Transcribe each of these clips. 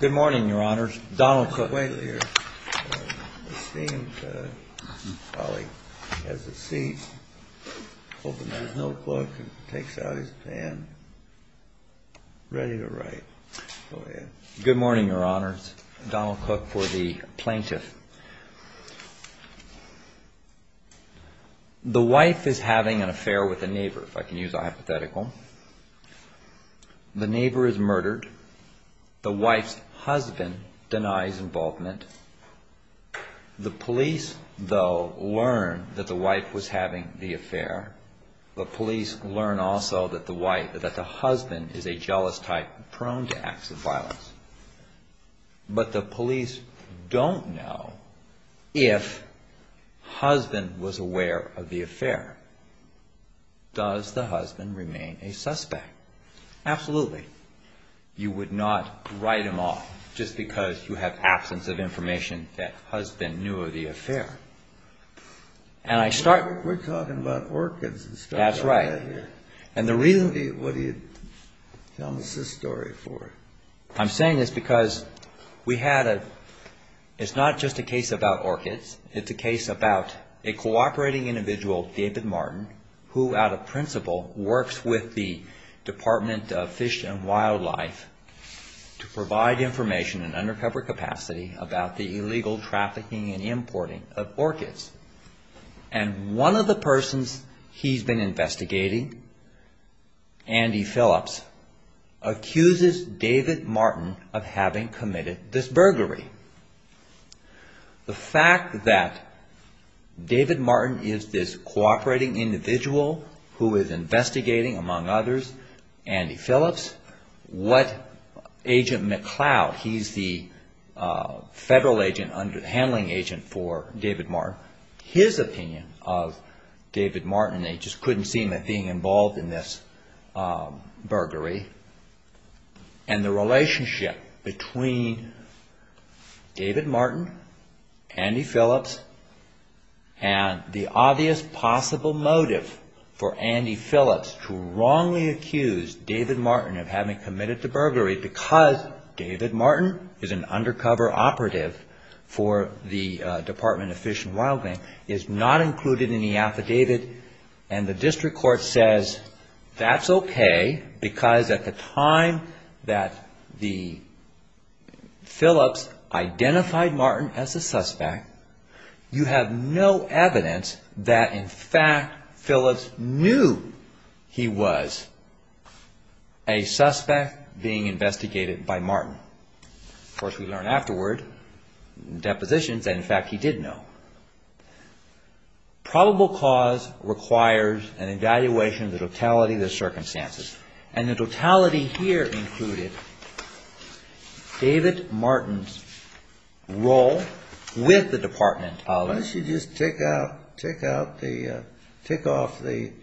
Good morning, Your Honors. Donald Cook for the Plaintiff. The wife is having an affair with a neighbor, if I can use a hypothetical. The neighbor is murdered. The wife's husband denies involvement. The police, though, learn that the wife was having the affair. The police learn also that the husband is a jealous type prone to acts of violence. But the police don't know if husband was aware of the affair. Does the husband remain a suspect? Absolutely. You would not write him off just because you have absence of information that husband knew of the affair. I'm saying this because it's not just a case about orchids, it's a case about a cooperating individual, David Martin, who out of principle works with the Department of Fish and Wildlife to provide information in undercover capacity about the illegal trafficking and importing of orchids. And one of the persons he's been investigating, Andy Phillips, accuses David Martin of having committed this burglary. The fact that David Martin is this cooperating individual who is investigating, among others, Andy Phillips, what Agent McCloud, he's the federal handling agent for David Martin, his opinion of David Martin, they just couldn't see him as being involved in this burglary. And the relationship between David Martin, Andy Phillips, and the obvious possible motive for Andy Phillips to wrongly accuse David Martin of having committed the burglary, because David Martin is an undercover operative for the Department of Fish and Wildlife, is not included in the affidavit, and the district court says that's okay, because at the time that the Phillips identified Martin as a suspect, you have no evidence that in fact Phillips knew he was a suspect being investigated by Martin. Of course, we learn afterward in depositions that in fact he did know. Probable cause requires an evaluation of the totality of the circumstances. And the totality here included David Martin's role with the Department of Fish and Wildlife. Why don't you just tick off the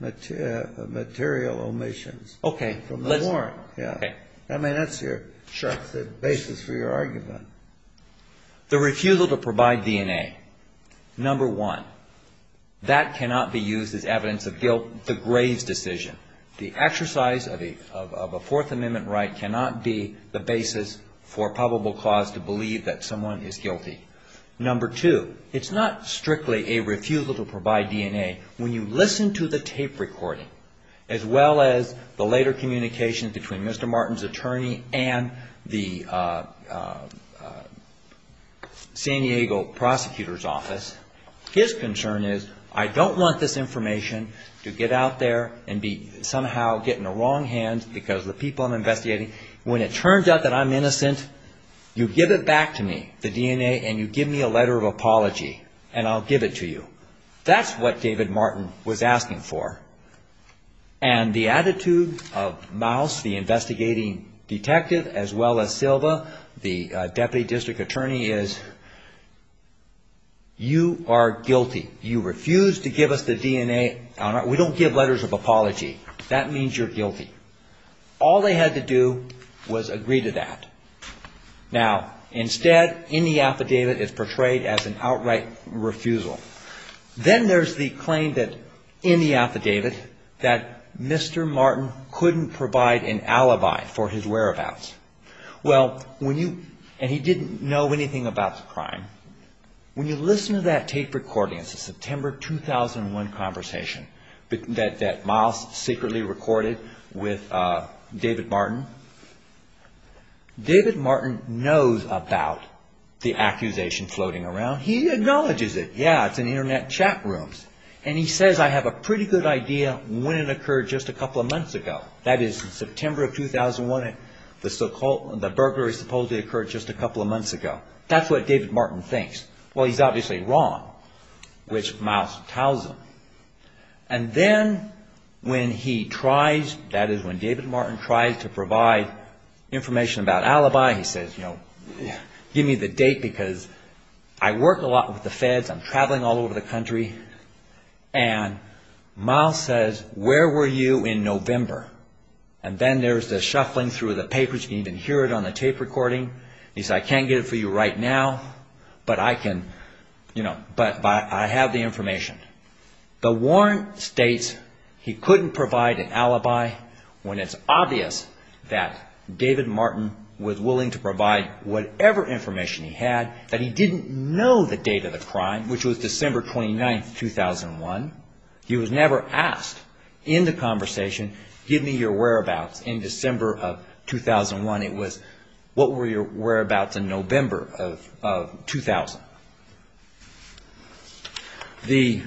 material omissions from the warrant? I mean, that's the basis for your argument. The refusal to provide DNA, number one, that cannot be used as evidence of guilt, the Graves decision. The exercise of a Fourth Amendment right cannot be the basis for probable cause to believe that someone is guilty. Number two, it's not strictly a refusal to provide DNA. When you listen to the tape recording, as well as the later communication between Mr. Martin's attorney and the San Diego prosecutor's office, his concern is, I don't want this information to get out there and be somehow get in the wrong hands because of the people I'm investigating. When it turns out that I'm innocent, you give it back to me, the DNA, and you give me a letter of apology, and I'll give it to you. That's what David Martin was asking for. And the attitude of Mouse, the investigating detective, as well as Silva, the deputy district attorney, is you are guilty. You refuse to give us the DNA. We don't give letters of apology. That means you're guilty. All they had to do was agree to that. Now, instead, in the affidavit, it's portrayed as an outright refusal. Then there's the claim that in the affidavit that Mr. Martin couldn't provide an alibi for his whereabouts. Well, when you, and he didn't know anything about the crime. When you listen to that tape recording, it's a September 2001 conversation that Mouse secretly recorded with David Martin. David Martin knows about the accusation floating around. He acknowledges it. Yeah, it's in internet chat rooms. And he says, I have a pretty good idea when it occurred just a couple of months ago. That is, September 2001, the burglary supposedly occurred just a couple of months ago. That's what David Martin thinks. Well, he's obviously wrong, which Mouse tells him. And then when he tries, that is when David Martin tries to provide information about alibi, he says, you know, give me the information. There's the shuffling through the papers. You can even hear it on the tape recording. He says, I can't get it for you right now, but I can, you know, but I have the information. The warrant states he couldn't provide an alibi when it's obvious that David Martin was willing to provide whatever information he had, that he didn't know the date of the crime, which was December 29th, 2001. He was never asked in the December of 2001. It was, what were your whereabouts in November of 2000? The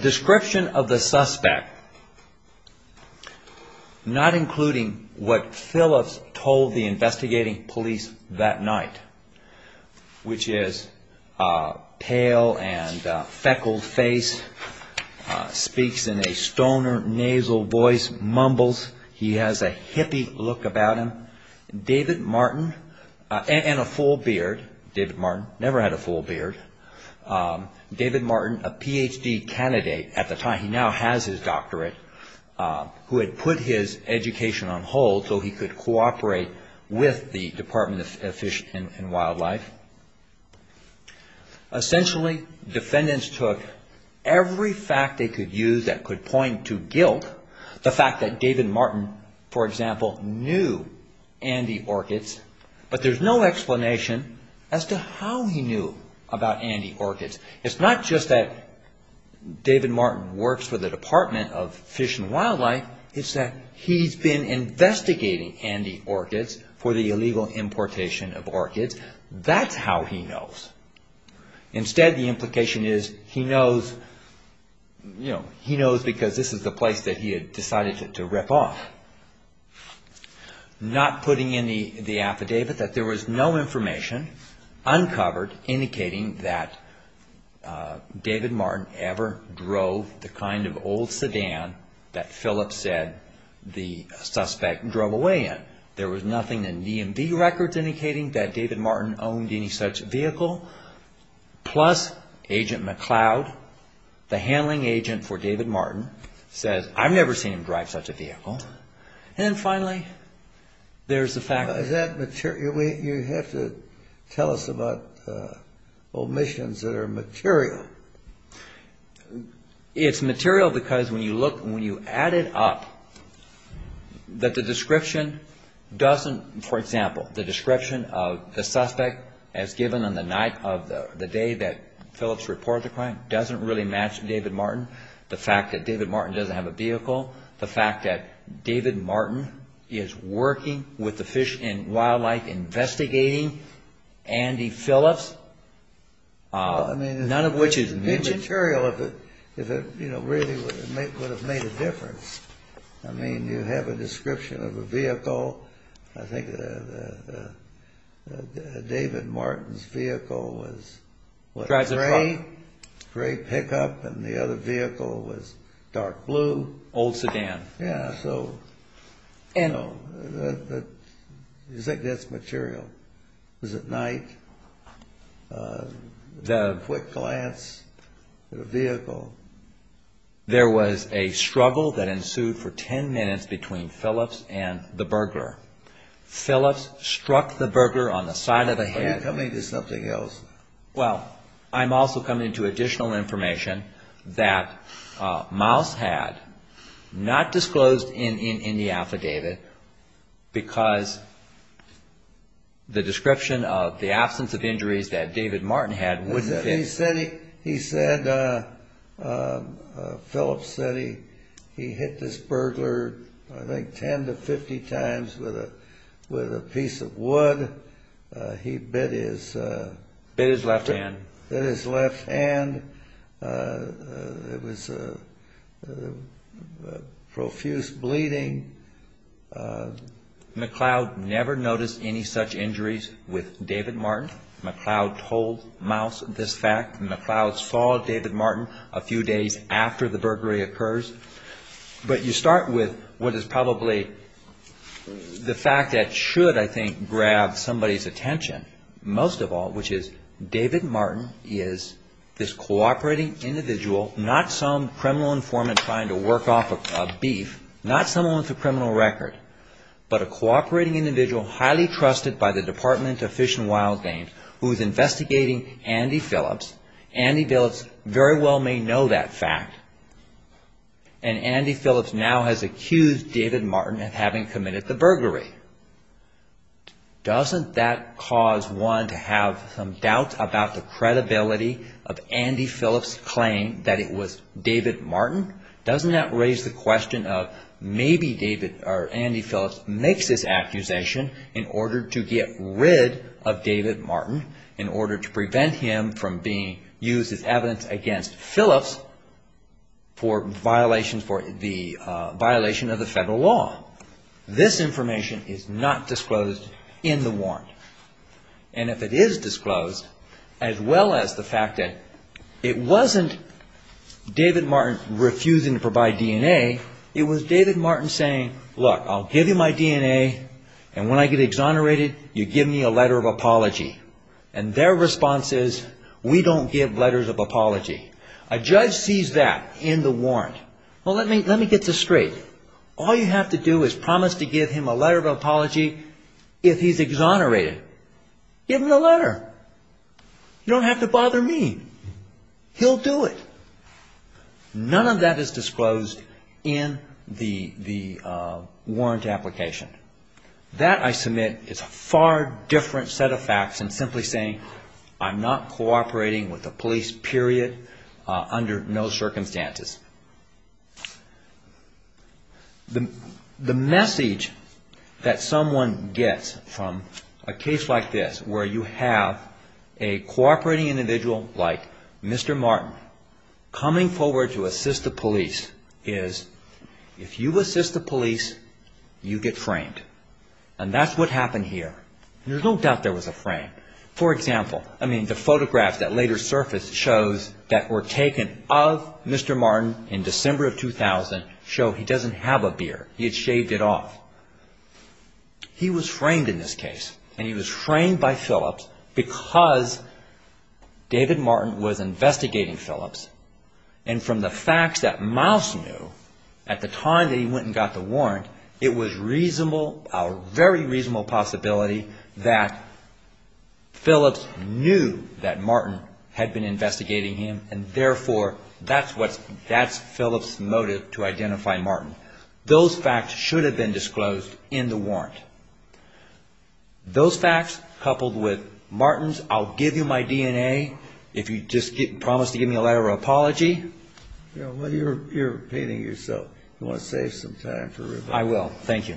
description of the suspect, not including what Phillips told the Department of Fish and Wildlife. Essentially, defendants took every fact they could use that could point to guilt. The fact that David Martin, for example, knew Andy Orchids, but there's no explanation as to how he knew about Andy Orchids. It's not just that David Martin works for the Department of Fish and Wildlife. It's that he's been investigating Andy Orchids for the illegal importation of that he had decided to rip off. Not putting in the affidavit that there was no information uncovered indicating that David Martin ever drove the kind of old sedan that Phillips said the suspect drove away in. There was nothing in DMV records indicating that David Martin owned any such vehicle. Plus, Agent David Martin says, I've never seen him drive such a vehicle. And finally, there's the fact that Is that material? You have to tell us about omissions that are material. It's material because when you look, when you add it up, that the description doesn't, for example, the description of the suspect as given on the night of the day that Phillips reported the crime doesn't really match David Martin. The fact that David Martin doesn't have a vehicle, the fact that David Martin is working with the Fish and Wildlife investigating Andy Phillips, none of which is material. It's material if it really would have made a difference. I mean, you have a description of a vehicle. I think David Martin's vehicle was gray pickup and the other vehicle was dark blue. Old sedan. Yeah, so you think that's material? Is it night? Quick glance at a vehicle? There was a struggle that ensued for ten minutes between Phillips and the burglar. Phillips struck the burglar on the side of the head. Are you coming to something else? Well, I'm also coming to additional information that Miles had not disclosed in the affidavit because the description of the absence of injuries that David Martin He said Phillips said he hit this burglar I think ten to fifty times with a piece of wood. He bit his left hand. It was profuse bleeding. McLeod never noticed any such injuries with David Martin. McLeod told Miles this fact. McLeod saw David Martin a few days after the burglary occurs. But you start with what is probably the fact that should, I think, grab somebody's attention most of all, which is David Martin is this cooperating individual, not some criminal informant trying to work off a beef, not someone with a criminal record, but a cooperating individual highly trusted by the Department of Fish and Wild Games who is investigating Andy Phillips. Andy Phillips very well may know that fact. And Andy Phillips now has accused David Martin of having committed the burglary. Doesn't that cause one to have some doubt about the credibility of Andy Phillips' claim that it was David Martin? Doesn't that raise the question of maybe Andy Phillips makes this accusation in order to get rid of David Martin, in order to prevent him from being This information is not disclosed in the warrant. And if it is disclosed, as well as the fact that it wasn't David Martin refusing to provide DNA, it was David Martin saying, look, I'll give you my DNA, and when I get exonerated, you give me a letter of apology. And their response is, we don't give letters of apology. A judge sees that in the warrant. Well, let me get this straight. All you have to do is promise to give him a letter of apology if he's exonerated. Give him the letter. You don't have to bother me. He'll do it. None of that is disclosed in the warrant application. That, I submit, is a far different set of facts than simply saying, I'm not cooperating with the police, period, under no circumstances. The message that someone gets from a case like this where you have a cooperating individual like Mr. Martin coming forward to assist the police is, if you assist the police, you get framed. And that's what happened here. There's no doubt there was a frame. For example, I mean, the photographs that later surfaced shows that were taken of Mr. Martin in December of 2000 show he doesn't have a beer. He had shaved it off. He was framed in this case. And he was framed by Phillips because David Martin was investigating him. And therefore, that's what's, that's Phillips' motive to identify Martin. Those facts should have been disclosed in the warrant. Those facts coupled with Martin's I'll give you my DNA if you just promise to give me a letter of apology. Well, you're repeating yourself. You want to save some time for rebuttal. I will. Thank you.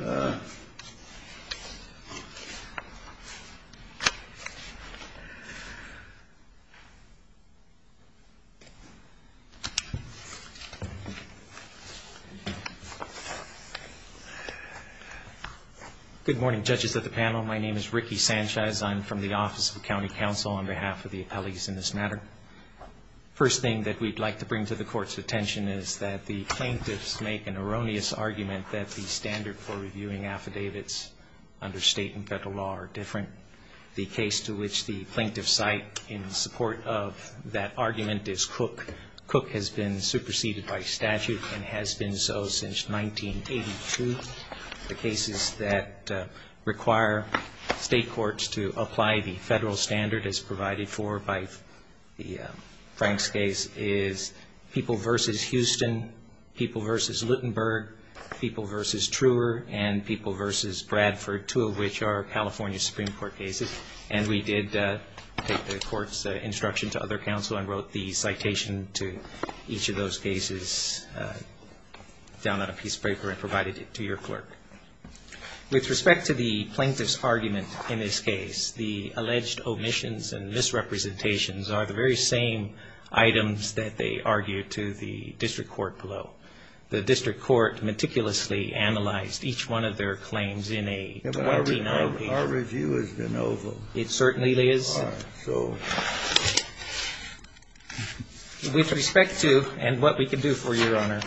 Good morning, judges of the panel. My name is Ricky Sanchez. I'm from the Office of County Counsel on behalf of the appellees in this matter. First thing that we'd like to bring to the court's attention is that the plaintiffs make an erroneous argument that the standard for reviewing affidavits under state and federal law are different. The case to which the plaintiff cite in support of that argument is Cook. Cook has been superseded by statute and has been so since 1982. The cases that require state courts to apply the federal standard as provided for by Frank's case is People v. Houston, People v. Luttenberg, People v. Truer, and People v. Bradford, two of which are California Supreme Court cases. And we did take the court's instruction to other counsel and wrote the citation to each of those cases down on a piece of paper and provided it to your clerk. With respect to the plaintiff's argument in this case, the alleged omissions and misrepresentations are the very same items that they argued to the district court below. The district court meticulously analyzed each one of their claims in a 20-9 paper. Our review is de novo. It certainly is. All right. So. With respect to, and what we can do for you, Your Honor,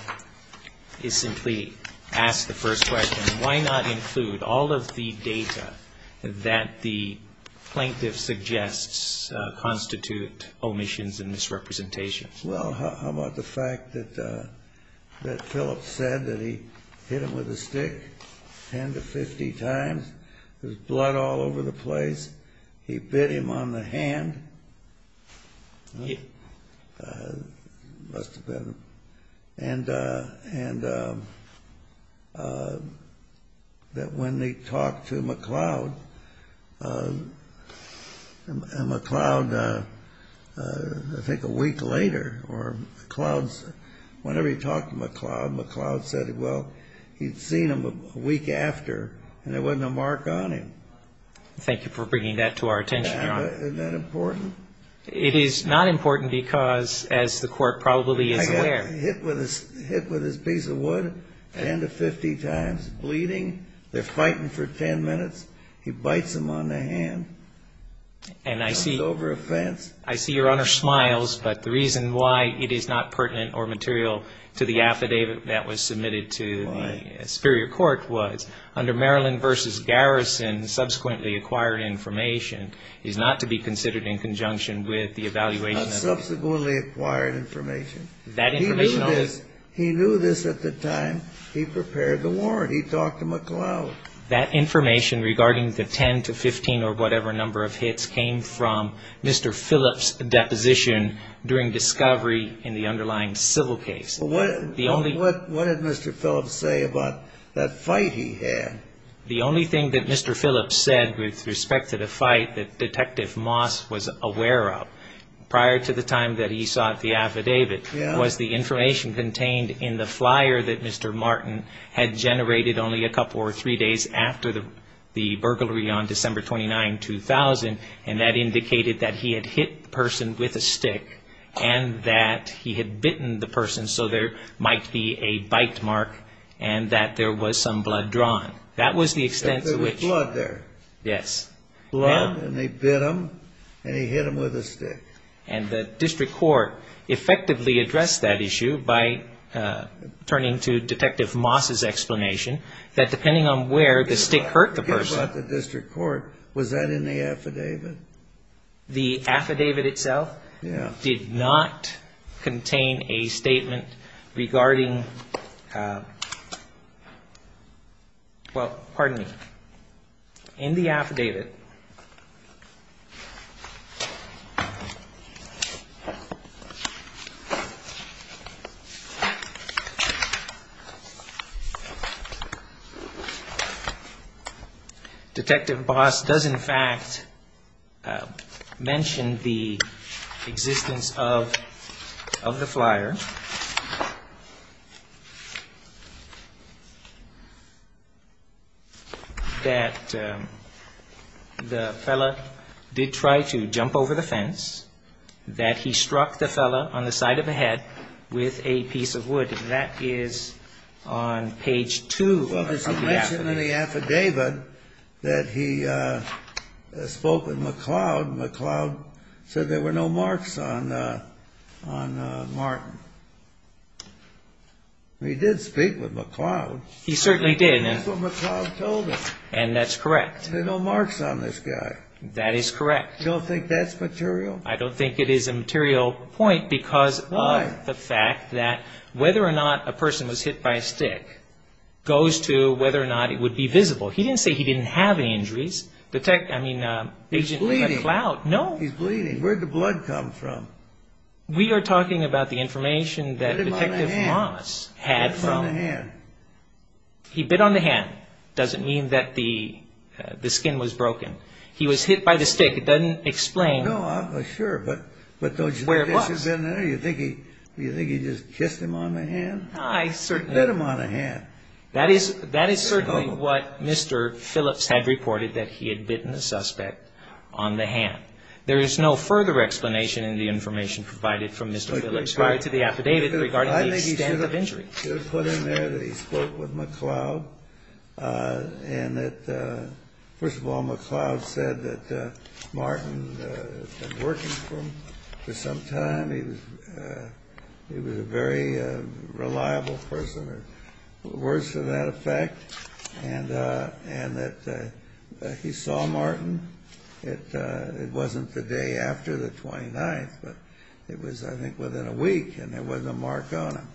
is simply ask the first question, why not include all of the data that the plaintiff suggests constitute omissions and misrepresentations? Well, how about the fact that Phillips said that he hit him with a stick 10 to 50 times? There's blood all over the place. He bit him on the hand. Must have been. And that when they talked to McLeod, and McLeod, I think a week later, or McLeod's, whenever he talked to McLeod, McLeod said, well, he'd seen him a week after and there wasn't a mark on him. Thank you for bringing that to our attention, Your Honor. Isn't that important? It is not important because, as the court probably is aware. He got hit with his piece of wood 10 to 50 times, bleeding. They're fighting for 10 minutes. He bites him on the hand. And I see. Comes over a fence. I see Your Honor smiles, but the reason why it is not pertinent or material to the affidavit that was submitted to the superior court was, under Maryland v. Garrison, subsequently acquired information is not to be considered in conjunction with the evaluation. Not subsequently acquired information. That information. He knew this. He knew this at the time he prepared the warrant. He talked to McLeod. That information regarding the 10 to 15 or whatever number of hits came from Mr. Phillips' deposition during discovery in the underlying civil case. What did Mr. Phillips say about that fight he had? The only thing that Mr. Phillips said with respect to the fight that Detective Moss was aware of, prior to the time that he sought the affidavit, was the information contained in the flyer that Mr. Martin had generated only a couple or three days after the burglary on December 29, 2000. And that indicated that he had hit the person with a stick and that he had bitten the person so there might be a bite mark and that there was some blood drawn. That was the extent to which. There was blood there. Yes. Blood and they bit him and he hit him with a stick. And the district court effectively addressed that issue by turning to Detective Moss' explanation that depending on where the stick hurt the person. I'm curious about the district court. Was that in the affidavit? The affidavit itself did not contain a statement regarding, well, pardon me. In the affidavit, Detective Moss does in fact mention the existence of the flyer that the fellow did try to jump over the fence, that he struck the fellow on the side of the head with a piece of wood. That is on page two of the affidavit. He did speak with McLeod. He certainly did. That's what McLeod told him. And that's correct. There were no marks on this guy. That is correct. You don't think that's material? I don't think it is a material point because of the fact that whether or not a person was hit by a stick goes to whether or not it would be visible. He didn't say he didn't have any injuries. He's bleeding. No. He's bleeding. Where did the blood come from? We are talking about the information that Detective Moss had. He bit on the hand. He bit on the hand. It doesn't mean that the skin was broken. He was hit by the stick. It doesn't explain where it was. Do you think he just kissed him on the hand? He bit him on the hand. That is certainly what Mr. Phillips had reported, that he had bitten the suspect on the hand. There is no further explanation in the information provided from Mr. Phillips prior to the affidavit regarding the extent of injury. I think he should have put in there that he spoke with McLeod and that, first of all, McLeod said that Martin had been working for him for some time. He was a very reliable person, or worse to that effect, and that he saw Martin. It wasn't the day after the 29th, but it was, I think, within a week, and there wasn't a mark on him.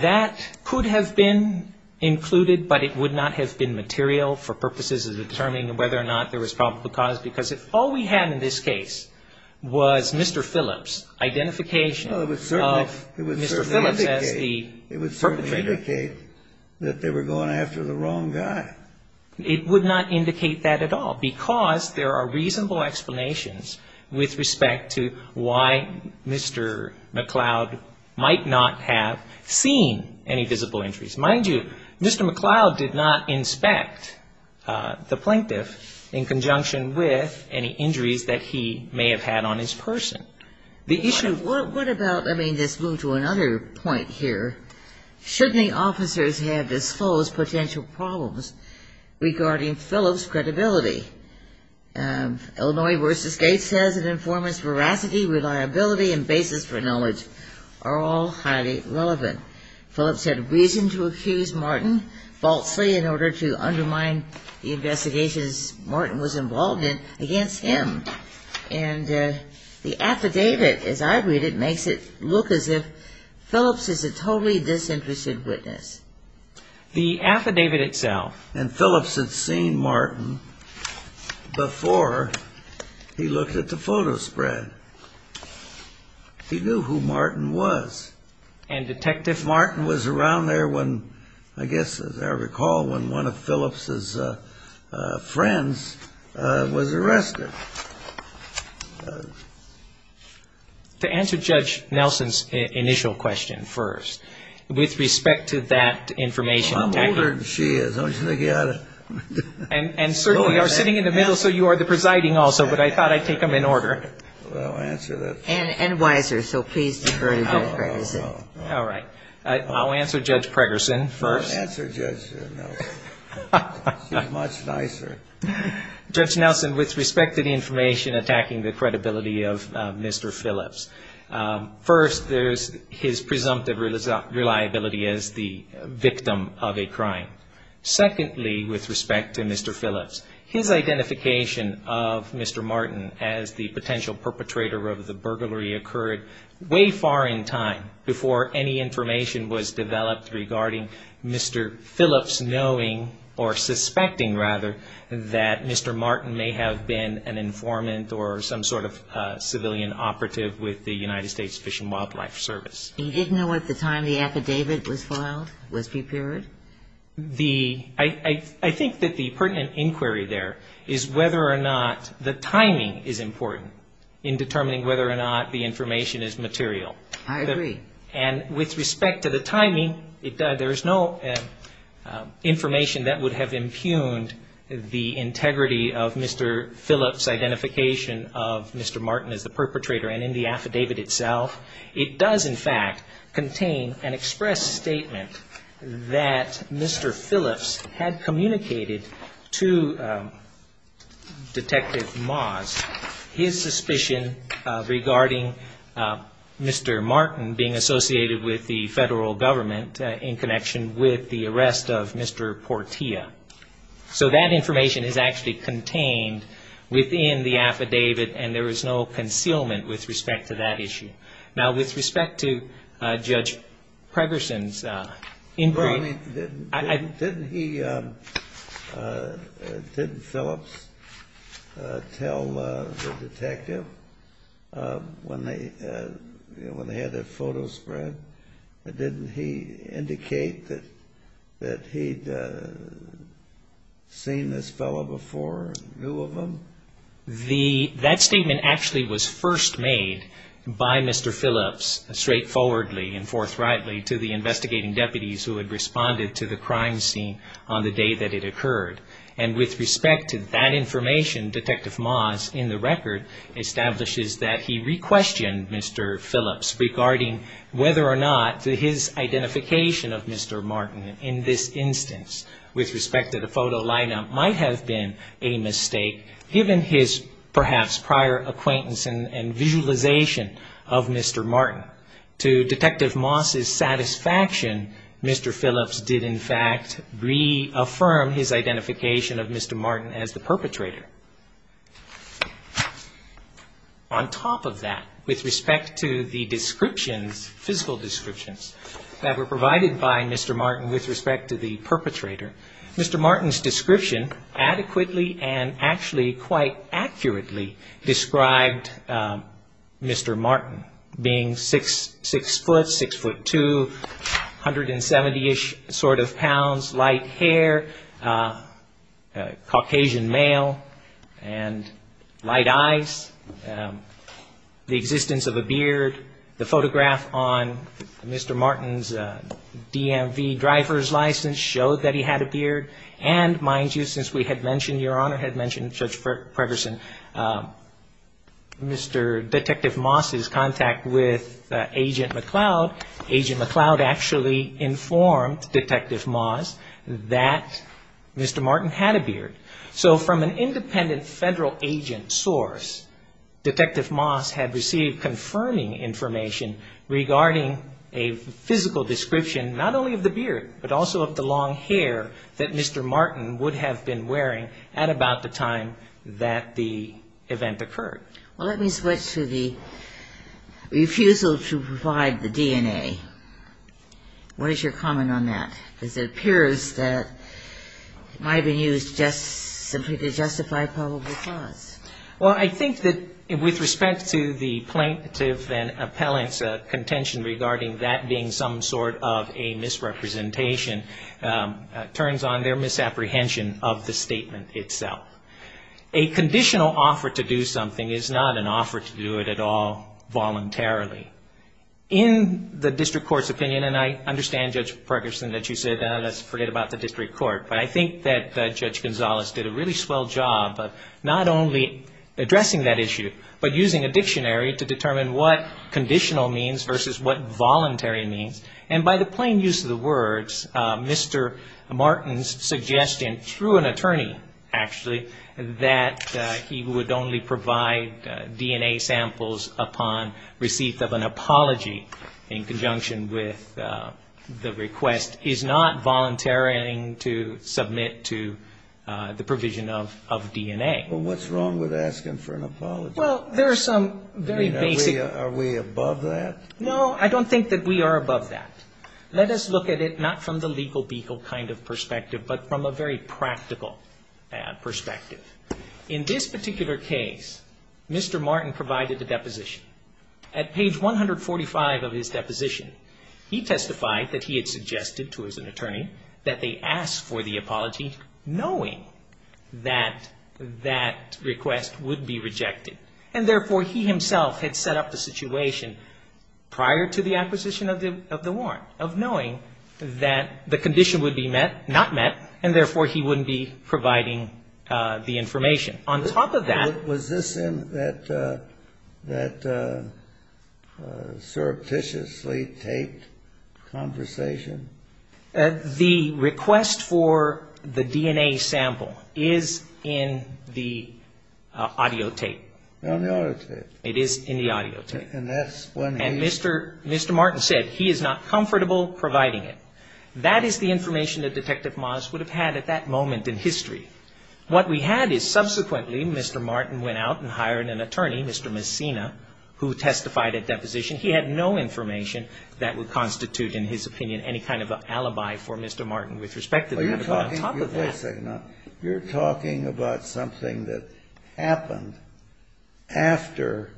That could have been included, but it would not have been material for purposes of determining whether or not there was probable cause, because if all we had in this case was Mr. Phillips' identification of Mr. Phillips as the perpetrator. It would certainly indicate that they were going after the wrong guy. It would not indicate that at all, because there are reasonable explanations with respect to why Mr. McLeod might not have seen any visible injuries. Mind you, Mr. McLeod did not inspect the plaintiff in conjunction with any injuries that he may have had on his person. The issue... What about, let me just move to another point here. Shouldn't the officers have disclosed potential problems regarding Phillips' credibility? Illinois v. Gates says an informant's veracity, reliability and basis for knowledge are all highly relevant. Phillips had reason to accuse Martin falsely in order to undermine the investigations Martin was involved in against him. And the affidavit, as I read it, makes it look as if Phillips is a totally disinterested witness. The affidavit itself... And Phillips had seen Martin before he looked at the photo spread. He knew who Martin was. And, Detective... Martin was around there when, I guess as I recall, when one of Phillips' friends was arrested. To answer Judge Nelson's initial question first, with respect to that information... Well, I'm older than she is. Don't you think you ought to... And certainly are sitting in the middle, so you are the presiding also. But I thought I'd take them in order. Well, answer that first. And wiser, so please defer to Judge Pregerson. All right. I'll answer Judge Pregerson first. Don't answer Judge Nelson. She's much nicer. Judge Nelson, with respect to the information attacking the credibility of Mr. Phillips, first, there's his presumptive reliability as the victim of a crime. Secondly, with respect to Mr. Phillips, his identification of Mr. Martin as the potential perpetrator of the burglary occurred way far in time before any information was developed regarding Mr. Phillips knowing, or suspecting rather, that Mr. Martin may have been an informant or some sort of civilian operative with the United States Fish and Wildlife Service. He didn't know at the time the affidavit was filed, was prepared? I think that the pertinent inquiry there is whether or not the timing is important in determining whether or not the information is material. I agree. And with respect to the timing, there's no information that would have impugned the integrity of Mr. Phillips' identification of Mr. Martin as the perpetrator and in the affidavit itself. It does, in fact, contain an express statement that Mr. Phillips had communicated to Detective Moss his suspicion regarding Mr. Martin being associated with the federal government in connection with the arrest of Mr. Portia. So that information is actually contained within the affidavit and there is no concealment with respect to that issue. Now, with respect to Judge Pregerson's inquiry. Didn't he, didn't Phillips tell the detective when they had that photo spread? Didn't he indicate that he'd seen this fellow before and knew of him? That statement actually was first made by Mr. Phillips straightforwardly and forthrightly to the investigating deputies who had responded to the crime scene on the day that it occurred. And with respect to that information, Detective Moss, in the record, establishes that he requestioned Mr. Phillips regarding whether or not his identification of Mr. Martin in this instance with respect to the photo lineup might have been a mistake. Given his, perhaps, prior acquaintance and visualization of Mr. Martin, to Detective Moss's satisfaction, Mr. Phillips did, in fact, reaffirm his identification of Mr. Martin as the perpetrator. On top of that, with respect to the descriptions, physical descriptions, that were provided by Mr. Martin with respect to the perpetrator, Mr. Martin's description adequately and actually quite accurately described Mr. Martin, being 6'6", 6'2", 170-ish sort of pounds, light hair, Caucasian male, and light eyes, the existence of a beard. The photograph on Mr. Martin's DMV driver's license showed that he had a beard. And, mind you, since we had mentioned, Your Honor had mentioned Judge Pregerson, Mr. Detective Moss's contact with Agent McLeod, Agent McLeod actually informed Detective Moss that Mr. Martin had a beard. So from an independent federal agent source, Detective Moss had received confirming information regarding a physical description, not only of the beard, but also of the long hair that Mr. Martin would have been wearing at about the time that the event occurred. Well, let me switch to the refusal to provide the DNA. What is your comment on that? Because it appears that it might have been used simply to justify probable cause. Well, I think that with respect to the plaintiff and appellant's contention regarding that being some sort of a misrepresentation, it turns on their misapprehension of the statement itself. A conditional offer to do something is not an offer to do it at all voluntarily. In the district court's opinion, and I understand, Judge Pregerson, that you said let's forget about the district court, but I think that Judge Gonzales did a really swell job of not only addressing that issue, but using a dictionary to determine what conditional means versus what voluntary means. And by the plain use of the words, Mr. Martin's suggestion through an attorney, actually, that he would only provide DNA samples upon receipt of an apology in conjunction with the request, is not voluntary to submit to the provision of DNA. Well, what's wrong with asking for an apology? Well, there are some very basic. Are we above that? No, I don't think that we are above that. Let us look at it not from the legal beagle kind of perspective, but from a very practical perspective. In this particular case, Mr. Martin provided a deposition. At page 145 of his deposition, he testified that he had suggested to his attorney that they ask for the apology knowing that that request would be rejected. And therefore, he himself had set up the situation prior to the acquisition of the warrant, of knowing that the condition would be met, not met, and therefore he wouldn't be providing the information. On top of that ---- Was this in that surreptitiously taped conversation? The request for the DNA sample is in the audio tape. On the audio tape. It is in the audio tape. And that's when he ---- And Mr. Martin said he is not comfortable providing it. That is the information that Detective Moss would have had at that moment in history. What we had is subsequently Mr. Martin went out and hired an attorney, Mr. Messina, who testified at deposition. He had no information that would constitute, in his opinion, any kind of alibi for Mr. Martin with respect to that. On top of that ---- Wait a second. You're talking about something that happened after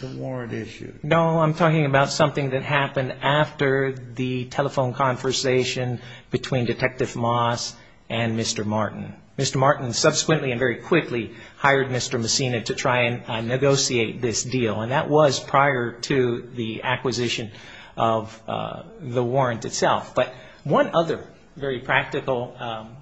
the warrant issue. No, I'm talking about something that happened after the telephone conversation between Detective Moss and Mr. Martin. Mr. Martin subsequently and very quickly hired Mr. Messina to try and negotiate this deal. And that was prior to the acquisition of the warrant itself. But one other very practical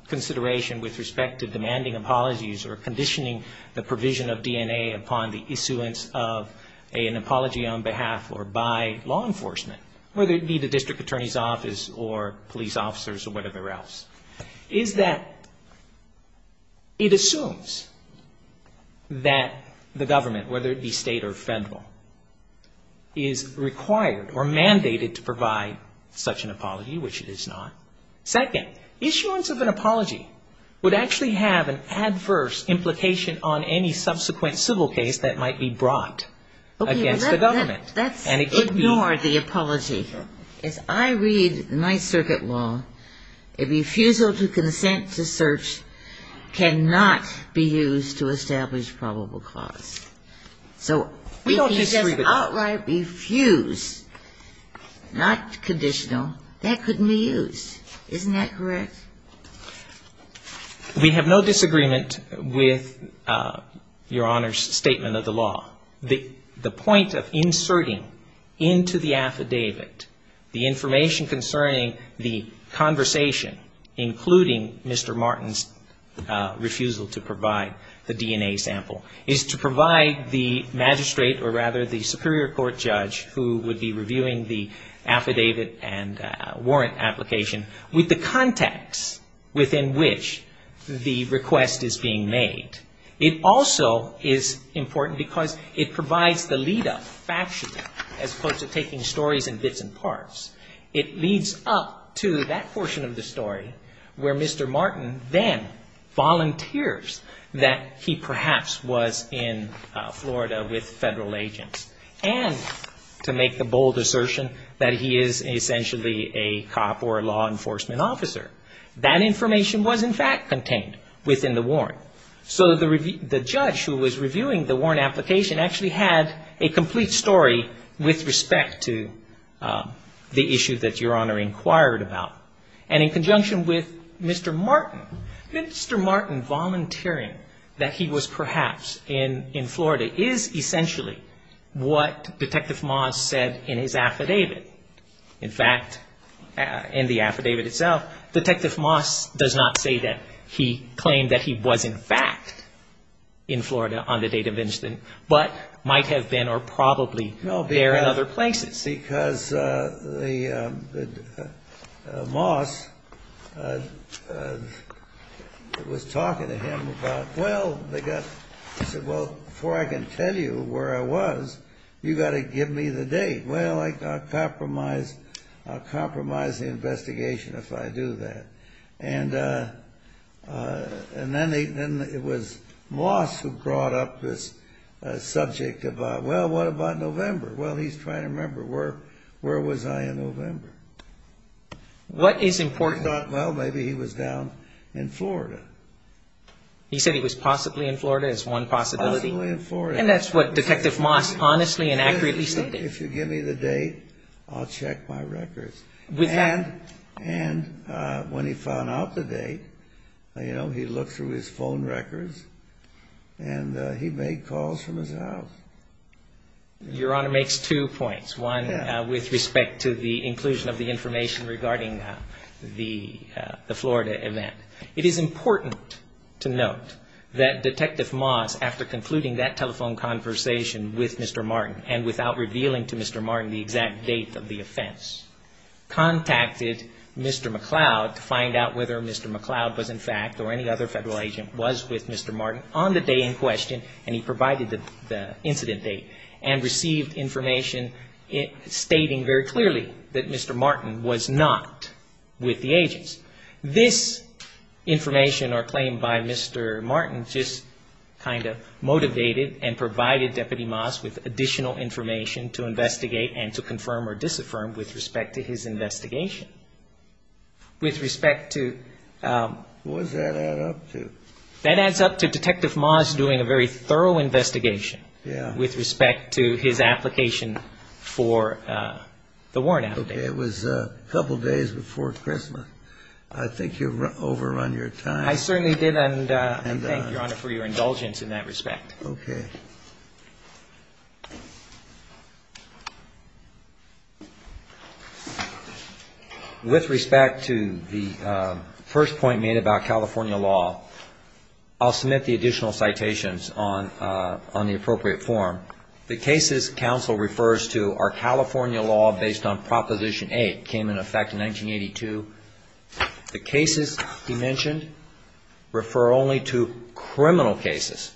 consideration with respect to demanding apologies or conditioning the provision of DNA upon the issuance of an apology on behalf or by law enforcement, whether it be the district attorney's office or police officers or whatever else, is that it assumes that the government, whether it be State or Federal, is required or mandated to provide such an apology, which it is not. Second, issuance of an apology would actually have an adverse implication on any subsequent civil case that might be brought against the government. Okay. Let's ignore the apology. As I read Ninth Circuit law, a refusal to consent to search cannot be used to establish probable cause. So we can just outright refuse, not conditional. That couldn't be used. Isn't that correct? We have no disagreement with Your Honor's statement of the law. The point of inserting into the affidavit the information concerning the conversation, including Mr. Martin's refusal to provide the DNA sample, is to provide the magistrate or rather the superior court judge who would be reviewing the affidavit and warrant application with the context within which the request is being made. It also is important because it provides the lead-up factually as opposed to taking stories in bits and parts. It leads up to that portion of the story where Mr. Martin then volunteers that he perhaps was in Florida with Federal agents, and to make the bold assertion that he is essentially a cop or a law enforcement officer. That information was in fact contained within the warrant. So the judge who was reviewing the warrant application actually had a complete story with respect to the issue that Your Honor inquired about. And in conjunction with Mr. Martin, Mr. Martin volunteering that he was perhaps in Florida is essentially what Detective Moss said in his affidavit. In fact, in the affidavit itself, Detective Moss does not say that he claimed that he was in fact in Florida on the date of incident, but might have been or probably there in other places. No, because the Moss was talking to him about, well, they got, he said, well, before I can tell you where I was, you've got to give me the date. Well, I'll compromise the investigation if I do that. And then it was Moss who brought up this subject about, well, what about November? Well, he's trying to remember, where was I in November? He thought, well, maybe he was down in Florida. He said he was possibly in Florida as one possibility. Possibly in Florida. And that's what Detective Moss honestly and accurately stated. If you give me the date, I'll check my records. And when he found out the date, he looked through his phone records and he made calls from his house. Your Honor, makes two points. One with respect to the inclusion of the information regarding the Florida event. It is important to note that Detective Moss, after concluding that telephone conversation with Mr. Martin, and without revealing to Mr. Martin the exact date of the offense, contacted Mr. McCloud to find out whether Mr. McCloud was in fact, or any other Federal agent, was with Mr. Martin on the day in question, and he provided the incident date. And received information stating very clearly that Mr. Martin was not with the agents. This information or claim by Mr. Martin just kind of motivated and provided Deputy Moss with additional information to investigate and to confirm or disaffirm with respect to his investigation. With respect to... What does that add up to? That adds up to Detective Moss doing a very thorough investigation with respect to his application for the warrant application. Okay, it was a couple days before Christmas. I think you've overrun your time. I certainly did, and I thank Your Honor for your indulgence in that respect. With respect to the first point made about California law, I'll submit the additional citations on the appropriate form. The cases counsel refers to are California law based on Proposition 8, came into effect in 1982. The cases he mentioned refer only to criminal cases.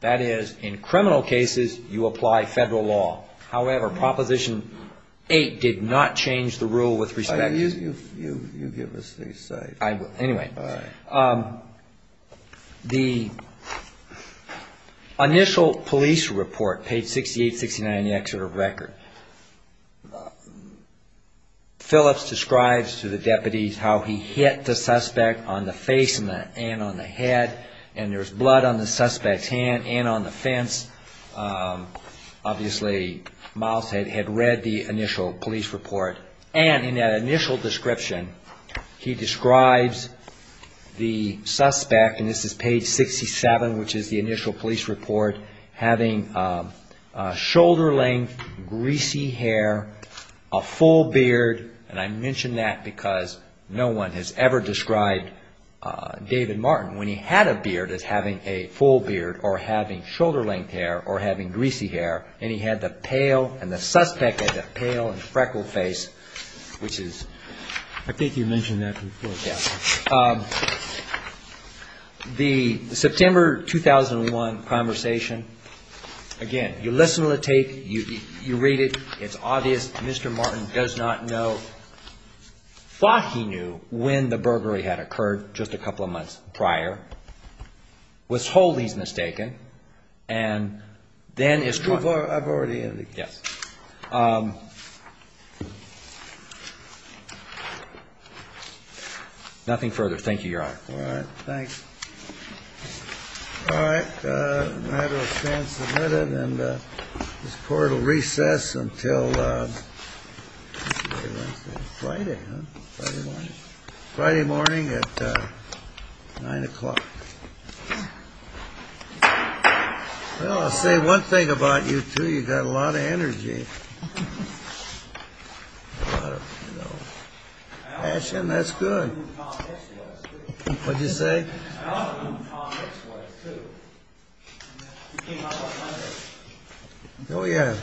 That is, in criminal cases, you apply Federal law. However, Proposition 8 did not change the rule with respect to... You give us the cite. Anyway, the initial police report, page 68, 69 in the Exeter Record, where Phillips describes to the deputies how he hit the suspect on the face and on the head, and there's blood on the suspect's hand and on the fence. Obviously, Moss had read the initial police report, and in that initial description, he describes the suspect, and this is page 67, which is the initial police report, having shoulder-length, greasy hair, a full beard, and I mention that because no one has ever described David Martin. When he had a beard, as having a full beard or having shoulder-length hair or having greasy hair, and he had the pale and the suspect had the pale and freckled face, which is... I think you mentioned that before. Yes. The September 2001 conversation, again, you listen to the tape, you read it, it's obvious Mr. Martin does not know, thought he knew when the burglary had occurred just a couple of months prior, was wholly mistaken, and then... Nothing further. Thank you, Your Honor. All right. Thanks. All right. What did you say? Oh, yeah.